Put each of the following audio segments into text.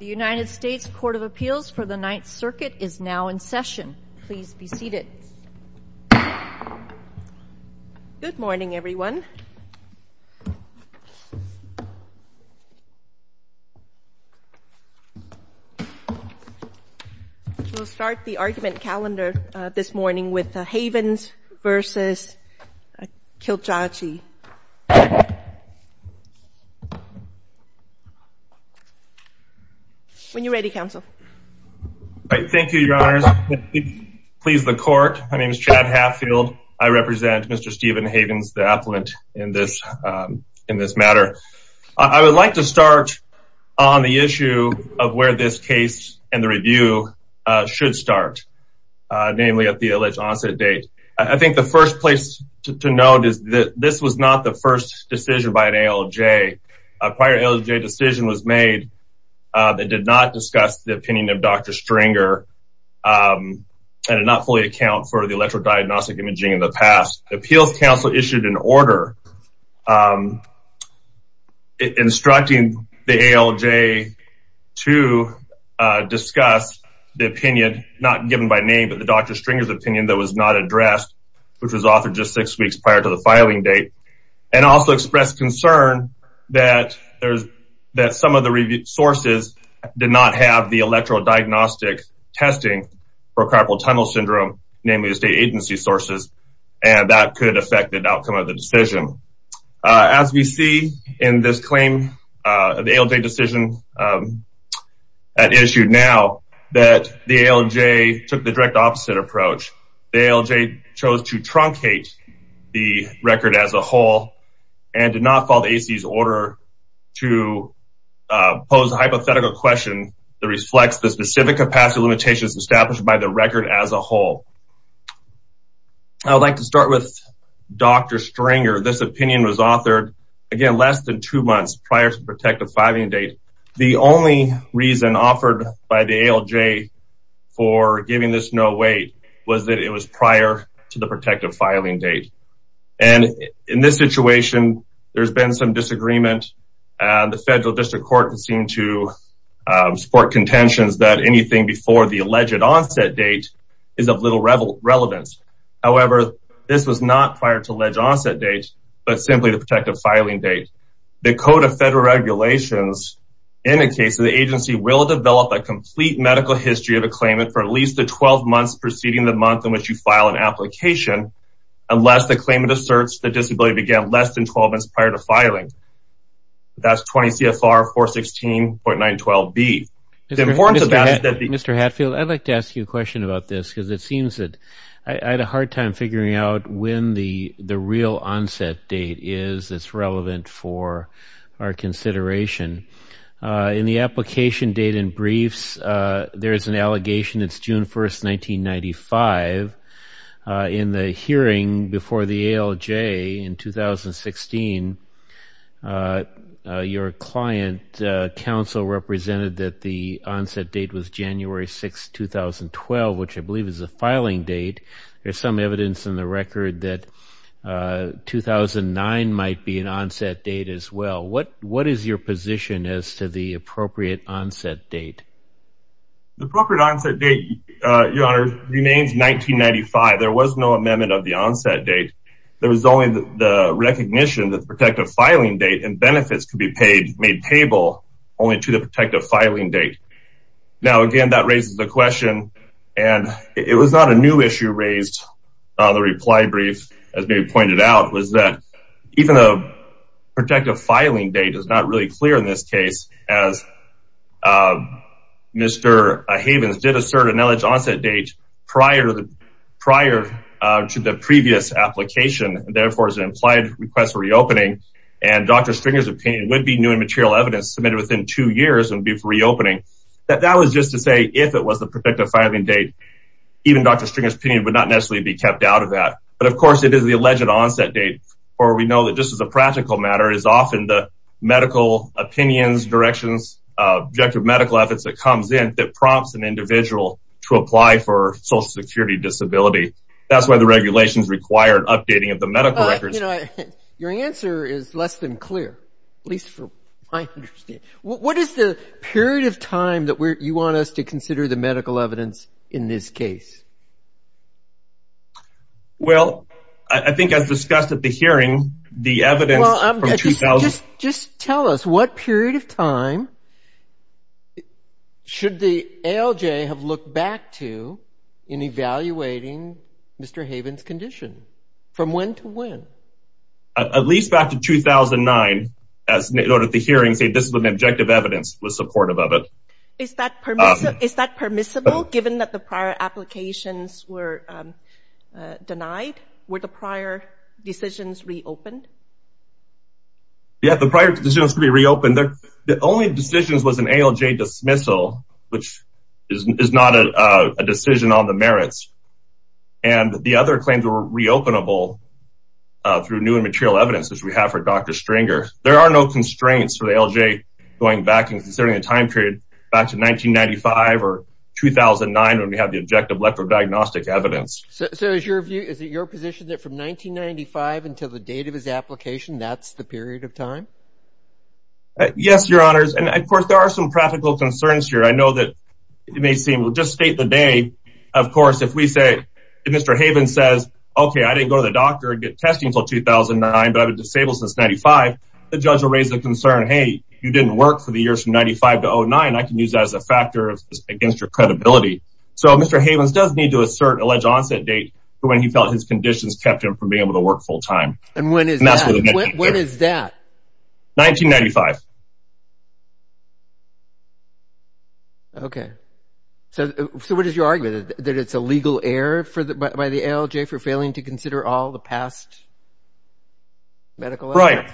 The United States Court of Appeals for the Ninth Circuit is now in session. Please be seated. Good morning everyone. We'll start the argument calendar this morning with the Havens v. Kilolo Kijakazi. When you're ready counsel. Thank you your honors. Please the court. My name is Chad Hatfield. I represent Mr. Stephen Havens the appellant in this in this matter. I would like to start on the issue of where this case and the review should start. Namely at the alleged onset date. I think the first place to note is that this was not the first decision by an ALJ. A prior ALJ decision was made that did not discuss the opinion of Dr. Stringer and did not fully account for the electrodiagnostic imaging in the past. Appeals counsel issued an order instructing the ALJ to discuss the opinion not given by name but the Dr. Stringer's opinion that was not addressed which was offered just six weeks prior to the filing date and also expressed concern that there's that some of the sources did not have the electrodiagnostic testing for carpal tunnel syndrome namely the state agency sources and that could affect the outcome of the decision. As we see in this claim the ALJ decision at issue now that the ALJ took the direct opposite approach. The ALJ chose to truncate the record as a whole and did not follow the AC's order to pose a hypothetical question that reflects the specific capacity limitations established by the record as a whole. I would like to start with Dr. Stringer. This opinion was authored again less than two months prior to protective filing date. The only reason offered by the ALJ for giving this no weight was that it was prior to the protective filing date and in this situation there's been some disagreement. The federal district court seemed to support contentions that anything before the alleged onset date is of little relevance. However this was not prior to alleged onset date but simply the protective filing date. The code of federal regulations indicates the agency will develop a complete medical history of a claimant for at least the 12 months preceding the month in which you file an application unless the claimant asserts the disability began less than 12 months prior to filing. That's 20 CFR 416.912B. Mr. Hatfield, I'd like to ask you a question about this because it seems that I had a hard time figuring out when the real onset date is that's relevant for our consideration. In the application date and briefs there's an allegation it's June 1st 1995. In the hearing before the ALJ in 2016 your client counsel represented that the onset date was January 6, 2012 which I believe is a 2009 might be an onset date as well. What what is your position as to the appropriate onset date? The appropriate onset date your honor remains 1995. There was no amendment of the onset date. There was only the recognition that the protective filing date and benefits could be paid made table only to the protective filing date. Now again that raises the question and it was not a issue raised on the reply brief as being pointed out was that even the protective filing date is not really clear in this case as Mr. Havens did assert an alleged onset date prior to the prior to the previous application and therefore is an implied request for reopening and Dr. Stringer's opinion would be new and material evidence submitted within two years and before reopening. That was just to say if it was the protective filing date even Dr. Stringer's opinion would not necessarily be kept out of that but of course it is the alleged onset date or we know that just as a practical matter is often the medical opinions directions objective medical efforts that comes in that prompts an individual to apply for social security disability. That's why the regulations required updating of the medical records. Your answer is less than clear at least for my understanding. What is the period of time that you want us to consider the medical evidence in this case? Well I think as discussed at the hearing the evidence from 2000. Just tell us what period of time should the ALJ have looked back to in evaluating Mr. Havens condition from one to one? At least back to 2009 as noted at the hearing say this is an objective evidence was supportive of it. Is that permissible given that the prior applications were denied? Were the prior decisions reopened? Yeah the prior decisions to be reopened. The only decisions was an ALJ dismissal which is not a decision on the merits and the other claims were reopenable through new and material evidence as we have for Dr. Stringer. There are no constraints for the ALJ going back and considering the time period back to 1995 or 2009 when we have the objective electrodiagnostic evidence. So is your view is it your position that from 1995 until the date of his application that's the period of time? Yes your honors and of course there are some practical concerns here. I know that it may seem we'll just state the day of course if we say Mr. Havens says okay I didn't go to the doctor and get testing until 2009 but I've been disabled since 95 the judge will raise the concern hey you didn't work for the years from 95 to 09 I can use that as a factor against your credibility. So Mr. Havens does need to assert alleged onset date for when he felt his conditions kept him from being able to work full time. And when is that? 1995. Okay so what is your argument that it's a legal error for the by the ALJ for failing to consider all the past medical evidence?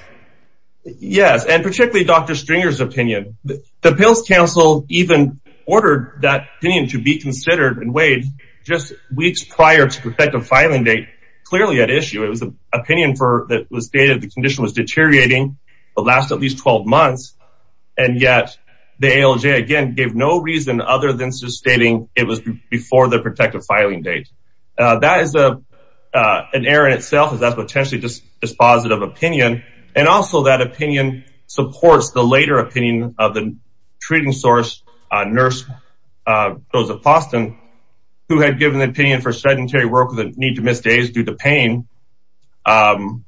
Right yes and particularly Dr. Stringer's opinion. The pills council even ordered that opinion to be considered and weighed just weeks prior to the effective filing date clearly at issue. It was an opinion for that was stated the condition was deteriorating the last at least 12 months and yet the ALJ again gave no reason other than just stating it was before the protective filing date. That is a an error in itself is that potentially just dispositive opinion and also that opinion supports the later opinion of the treating source nurse Rosa Faustin who had given the opinion for sedentary work with a need to miss days due to pain. Um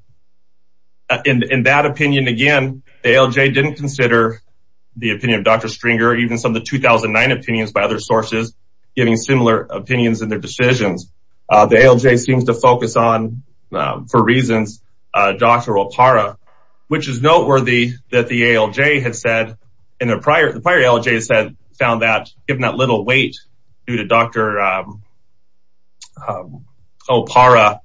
in that opinion again the ALJ didn't consider the opinion of Dr. Stringer even some of the 2009 opinions by other sources giving similar opinions in their decisions. Uh the ALJ seems to focus on for reasons uh Dr. Opara which is noteworthy that the ALJ had said in the prior the prior ALJ said found that given that little weight due to Dr. Opara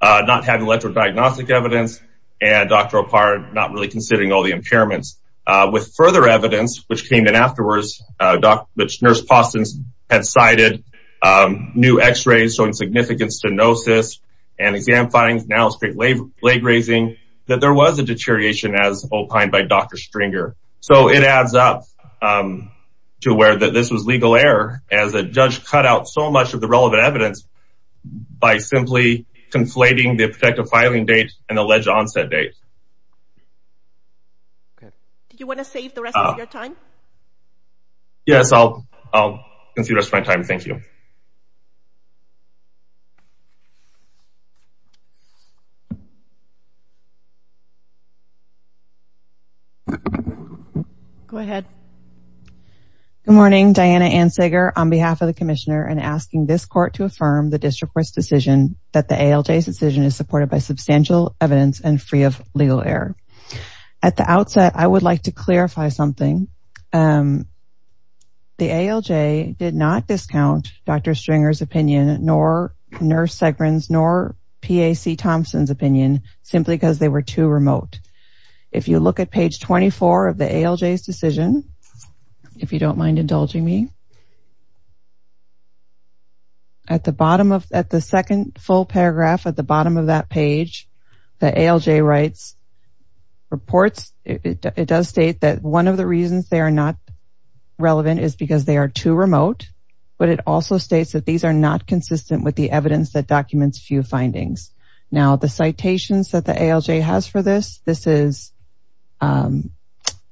not having electrodiagnostic evidence and Dr. Opara not really considering all the impairments. Uh with further evidence which came in afterwards uh which Nurse Faustin had cited new x-rays showing significant stenosis and exam findings now straight leg raising that there was a deterioration as opined by Dr. Stringer. So it adds up um to where that this was legal error as a judge cut out so much of the relevant evidence by simply conflating the protective filing date and alleged onset date. Did you want to save the rest of your time? Yes I'll I'll consider this my time thank you. Go ahead. Good morning Diana Ansager on behalf of the commissioner and asking this court to affirm the district court's decision that the ALJ's decision is supported by substantial evidence and free of legal error. At the outset I would like to clarify something um the ALJ did not discount Dr. Stringer's opinion nor Nurse Segrin's nor PAC Thompson's opinion simply because they were too remote. If you look at page 24 of the ALJ's decision if you don't mind indulging me at the bottom of at the second full paragraph at the bottom of that page the ALJ writes reports it does state that one of the reasons they are not relevant is because they are too remote but it also states that these are not consistent with the evidence that documents few findings. Now the citations that the ALJ has for this this is um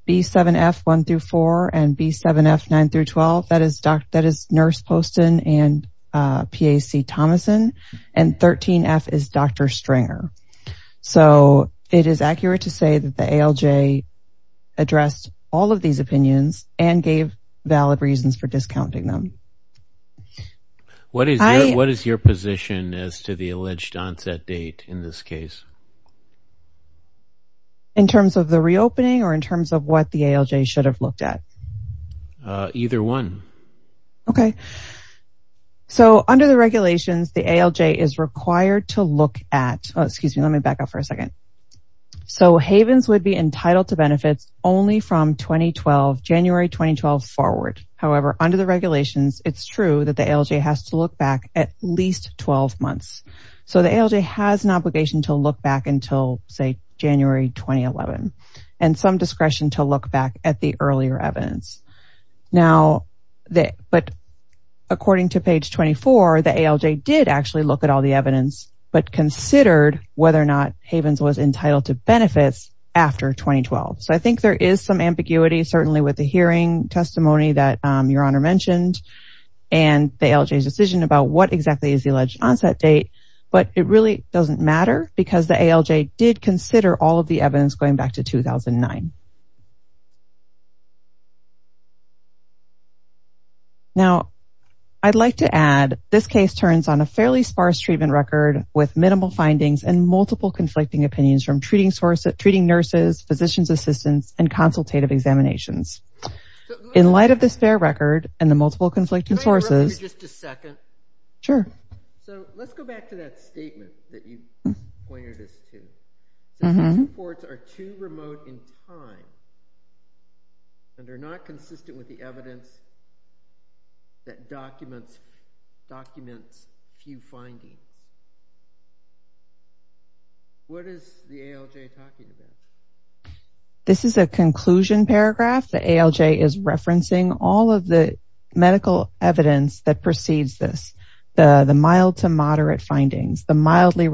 b7f 1 through 4 and b7f 9 through 12 that is doc that is Nurse Poston and uh PAC Thomason and 13f is Dr. Stringer. So it is accurate to say that the ALJ addressed all of these opinions and gave valid reasons for discounting them. What is what is your position as to the alleged onset date in this case? In terms of the reopening or in terms of what the ALJ should have looked at? Uh either one. Okay so under the regulations the ALJ is required to look at excuse me let me back up for a second. So Havens would be entitled to benefits only from 2012 January 2012 forward however under the regulations it's true that the ALJ has to look back at least 12 months so the ALJ has an obligation to look back until say January 2011 and some discretion to look back at the earlier evidence. Now that but according to page 24 the ALJ did actually look at all the evidence but considered whether or not Havens was entitled to benefits after 2012. So I think there is some ambiguity certainly with the hearing testimony that your honor mentioned and the ALJ's decision about what exactly is the alleged onset date but it really doesn't matter because the ALJ did consider all of the evidence going back to 2009. Now I'd like to add this case turns on a fairly sparse treatment record with minimal findings and multiple conflicting opinions from treating sources treating nurses physicians assistants and consultative examinations. In light of this fair record and the multiple conflicting sources sure so let's go back to that statement that you pointed us to reports are too remote in time and are not consistent with the evidence that documents documents few findings. What is the ALJ talking about? This is a conclusion paragraph the ALJ is referencing all of the medical evidence that precedes this the the mild to moderate findings the mildly in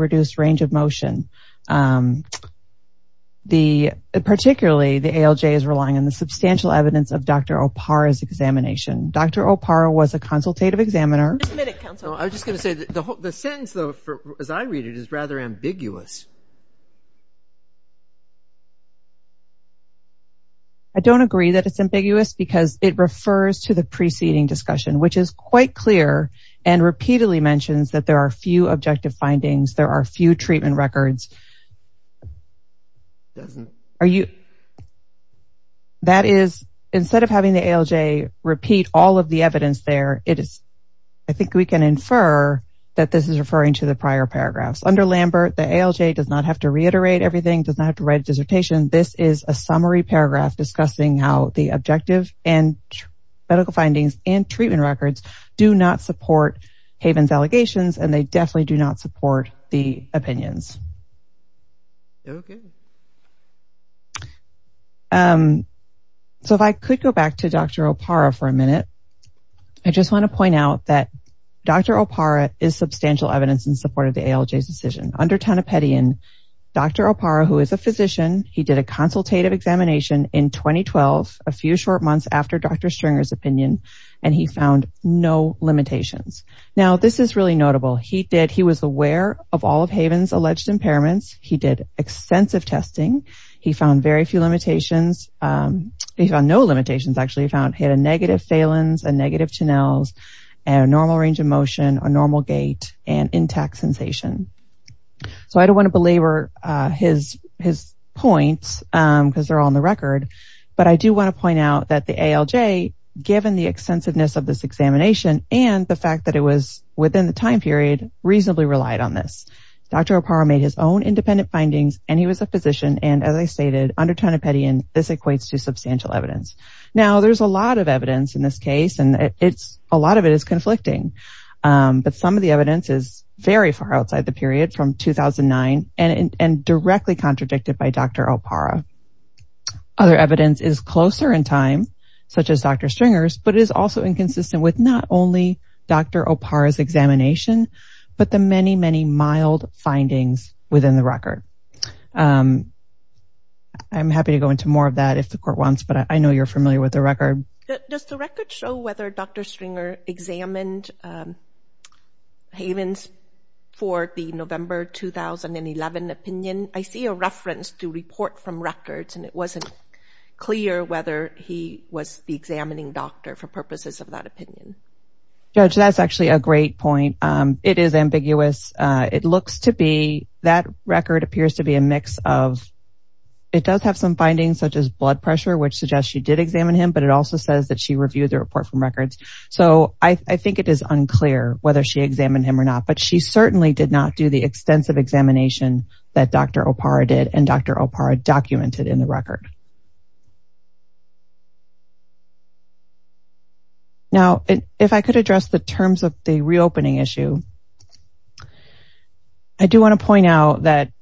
the substantial evidence of Dr. Opar examination. Dr. Opar was a consultative examiner. I was going to say the sentence though as I read it is rather ambiguous. I don't agree that it's ambiguous because it refers to the preceding discussion which is quite clear and repeatedly mentions that there are few objective findings there are few treatment records are you that is instead of having the ALJ repeat all of the evidence there it is I think we can infer that this is referring to the prior paragraphs under Lambert the ALJ does not have to reiterate everything does not have to write a dissertation this is a summary paragraph discussing how the objective and medical findings and treatment records do not support Haven's Okay. So if I could go back to Dr. Opar for a minute I just want to point out that Dr. Opar is substantial evidence in support of the ALJ's decision under Tanepedian Dr. Opar who is a physician he did a consultative examination in 2012 a few short months after Dr. Stringer's opinion and he found no limitations. Now this is really notable he did he was aware of all Haven's alleged impairments he did extensive testing he found very few limitations he found no limitations actually he found he had a negative phalans and negative channels and a normal range of motion a normal gait and intact sensation so I don't want to belabor his his points because they're on the record but I do want to point out that the ALJ given the extensiveness of this examination and the fact that it was within the time period reasonably relied on this. Dr. Opar made his own independent findings and he was a physician and as I stated under Tanepedian this equates to substantial evidence. Now there's a lot of evidence in this case and it's a lot of it is conflicting but some of the evidence is very far outside the period from 2009 and and directly contradicted by Dr. Opar. Other evidence is closer in time such as Dr. Stringer's but it is also inconsistent with not only Dr. Opar's examination but the many many mild findings within the record. I'm happy to go into more of that if the court wants but I know you're familiar with the record. Does the record show whether Dr. Stringer examined Haven's for the November 2011 opinion? I see a reference to report from records and it wasn't clear whether he was the examining doctor for purposes of that opinion. Judge that's actually a great point. It is ambiguous. It looks to be that record appears to be a mix of it does have some findings such as blood pressure which suggests she did examine him but it also says that she reviewed the report from records so I think it is unclear whether she examined him or not but she certainly did not do the extensive examination that Dr. Opar did and Dr. Opar documented in the record. Now if I could address the terms of the reopening issue, I do want to point out that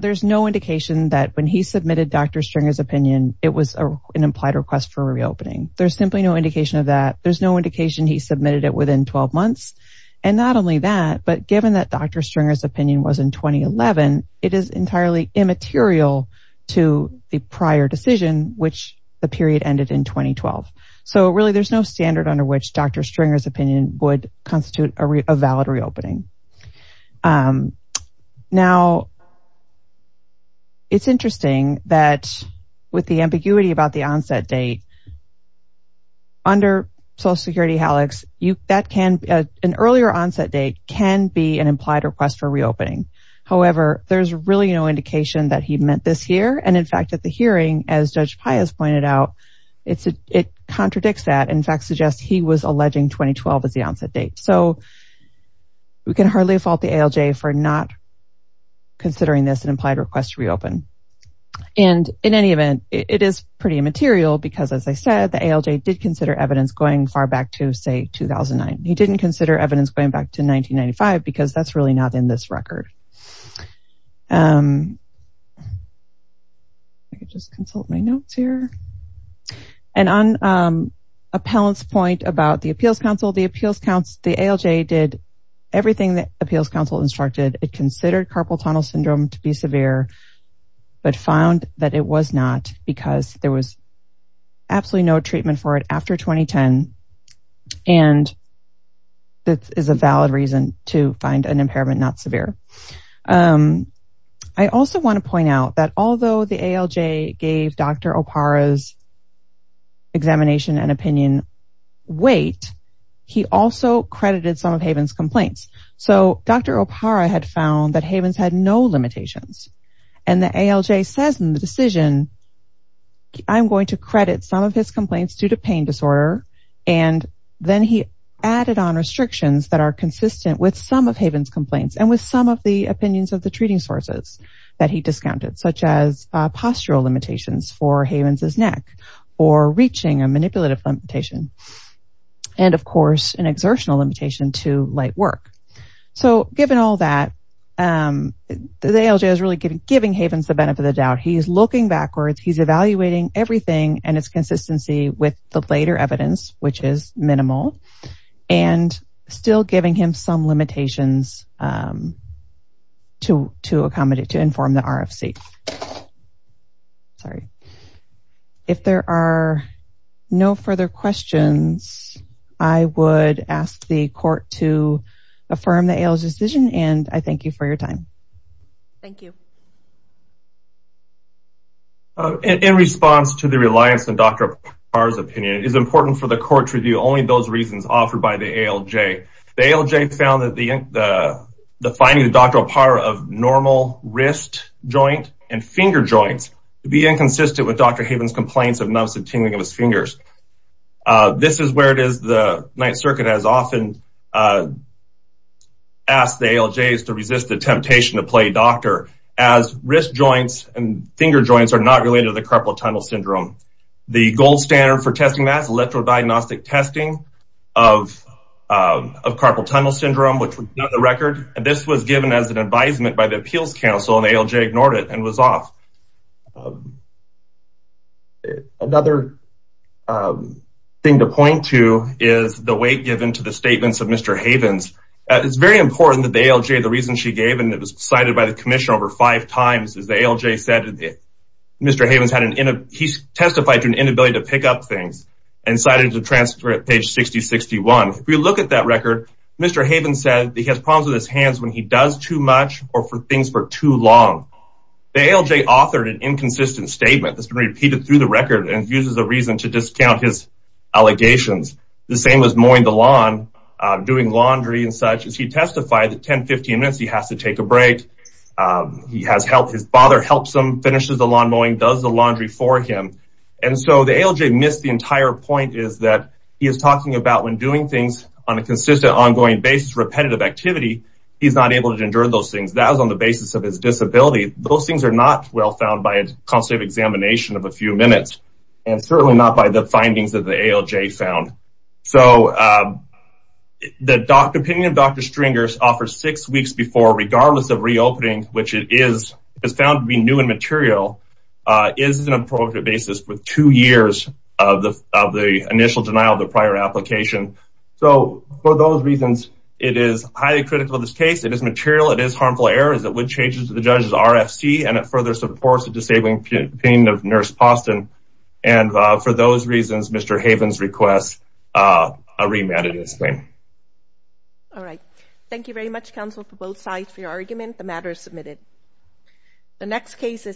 there's no indication that when he submitted Dr. Stringer's opinion it was an implied request for reopening. There's simply no indication of that. There's no indication he submitted it within 12 months and not only that but given that Dr. Stringer's opinion was in 2011 it is entirely immaterial to the prior decision which the period ended in 2012. So really there's no standard under which Dr. Stringer's opinion would constitute a valid reopening. Now it's interesting that with the ambiguity about the onset date under Social Security Hallux, an earlier onset date can be an implied request for reopening. However, there's really no indication that he meant this year and in fact at the hearing as Judge Pius pointed out it contradicts that in fact suggests he was alleging 2012 as the onset date. So we can hardly fault the ALJ for not considering this an implied request to reopen and in any event it is pretty immaterial because as I said the ALJ did consider evidence going far back to say 2009. He didn't consider evidence going back to 1995 because that's really not in this record. And on Appellant's point about the Appeals Council, the ALJ did everything the Appeals Council instructed. It considered carpal tunnel syndrome to be severe but found that it was not because there was absolutely no treatment for it after 2010 and that is a valid reason to find an impairment not severe. I also want to point out that although the ALJ gave Dr. Opara's examination and opinion wait, he also credited some of Haven's complaints. So Dr. Opara had found that Haven's had no limitations and the ALJ says in the decision I'm going to credit some of his complaints due to pain disorder and then he added on restrictions that are consistent with some of Haven's complaints and with some of the opinions of the treating sources that he discounted such as postural limitations for Haven's neck or reaching a manipulative limitation and of course an exertional limitation to light work. So given all that the ALJ is really giving Haven's the benefit of the doubt. He is looking backwards. He's evaluating everything and its limitations to inform the RFC. If there are no further questions, I would ask the court to affirm the ALJ's decision and I thank you for your time. Thank you. In response to the reliance on Dr. Opara's opinion, it is important for the court to only those reasons offered by the ALJ. The ALJ found that the finding of Dr. Opara of normal wrist joint and finger joints to be inconsistent with Dr. Haven's complaints of numbness and tingling of his fingers. This is where it is the Ninth Circuit has often asked the ALJs to resist the temptation to play doctor as wrist joints and finger joints are not related to the carpal tunnel syndrome. The gold standard for testing that is electrodiagnostic testing of carpal tunnel syndrome which would be on the record. This was given as an advisement by the Appeals Council and the ALJ ignored it and was off. Another thing to point to is the weight given to the statements of Mr. Haven's. It is very important that the ALJ, the reason she gave and it was cited by the commission over five times, the ALJ said that Mr. Haven's testified to an inability to pick up things and cited to transcript page 6061. If we look at that record, Mr. Haven said he has problems with his hands when he does too much or for things for too long. The ALJ authored an inconsistent statement that's been repeated through the record and uses the reason to discount his allegations. The same was mowing the lawn, doing laundry and such as he testified that 10-15 minutes he has to take a bath, helps him, finishes the lawn mowing, does the laundry for him. The ALJ missed the entire point is that he is talking about when doing things on a consistent ongoing basis, repetitive activity, he is not able to endure those things. That was on the basis of his disability. Those things are not well found by a constant examination of a few minutes and certainly not by the findings that the ALJ found. The opinion of Dr. Stringer offers six weeks before regardless of reopening, which it is found to be new and material, is an appropriate basis with two years of the initial denial of the prior application. So for those reasons, it is highly critical of this case. It is material, it is harmful errors, it would change the judge's RFC and it further supports the disabling opinion of Nurse Poston. And for those reasons, Mr. Haven's request a remand in his name. All right. Thank you very much, counsel, for both sides for your argument. The matter is submitted. The next case is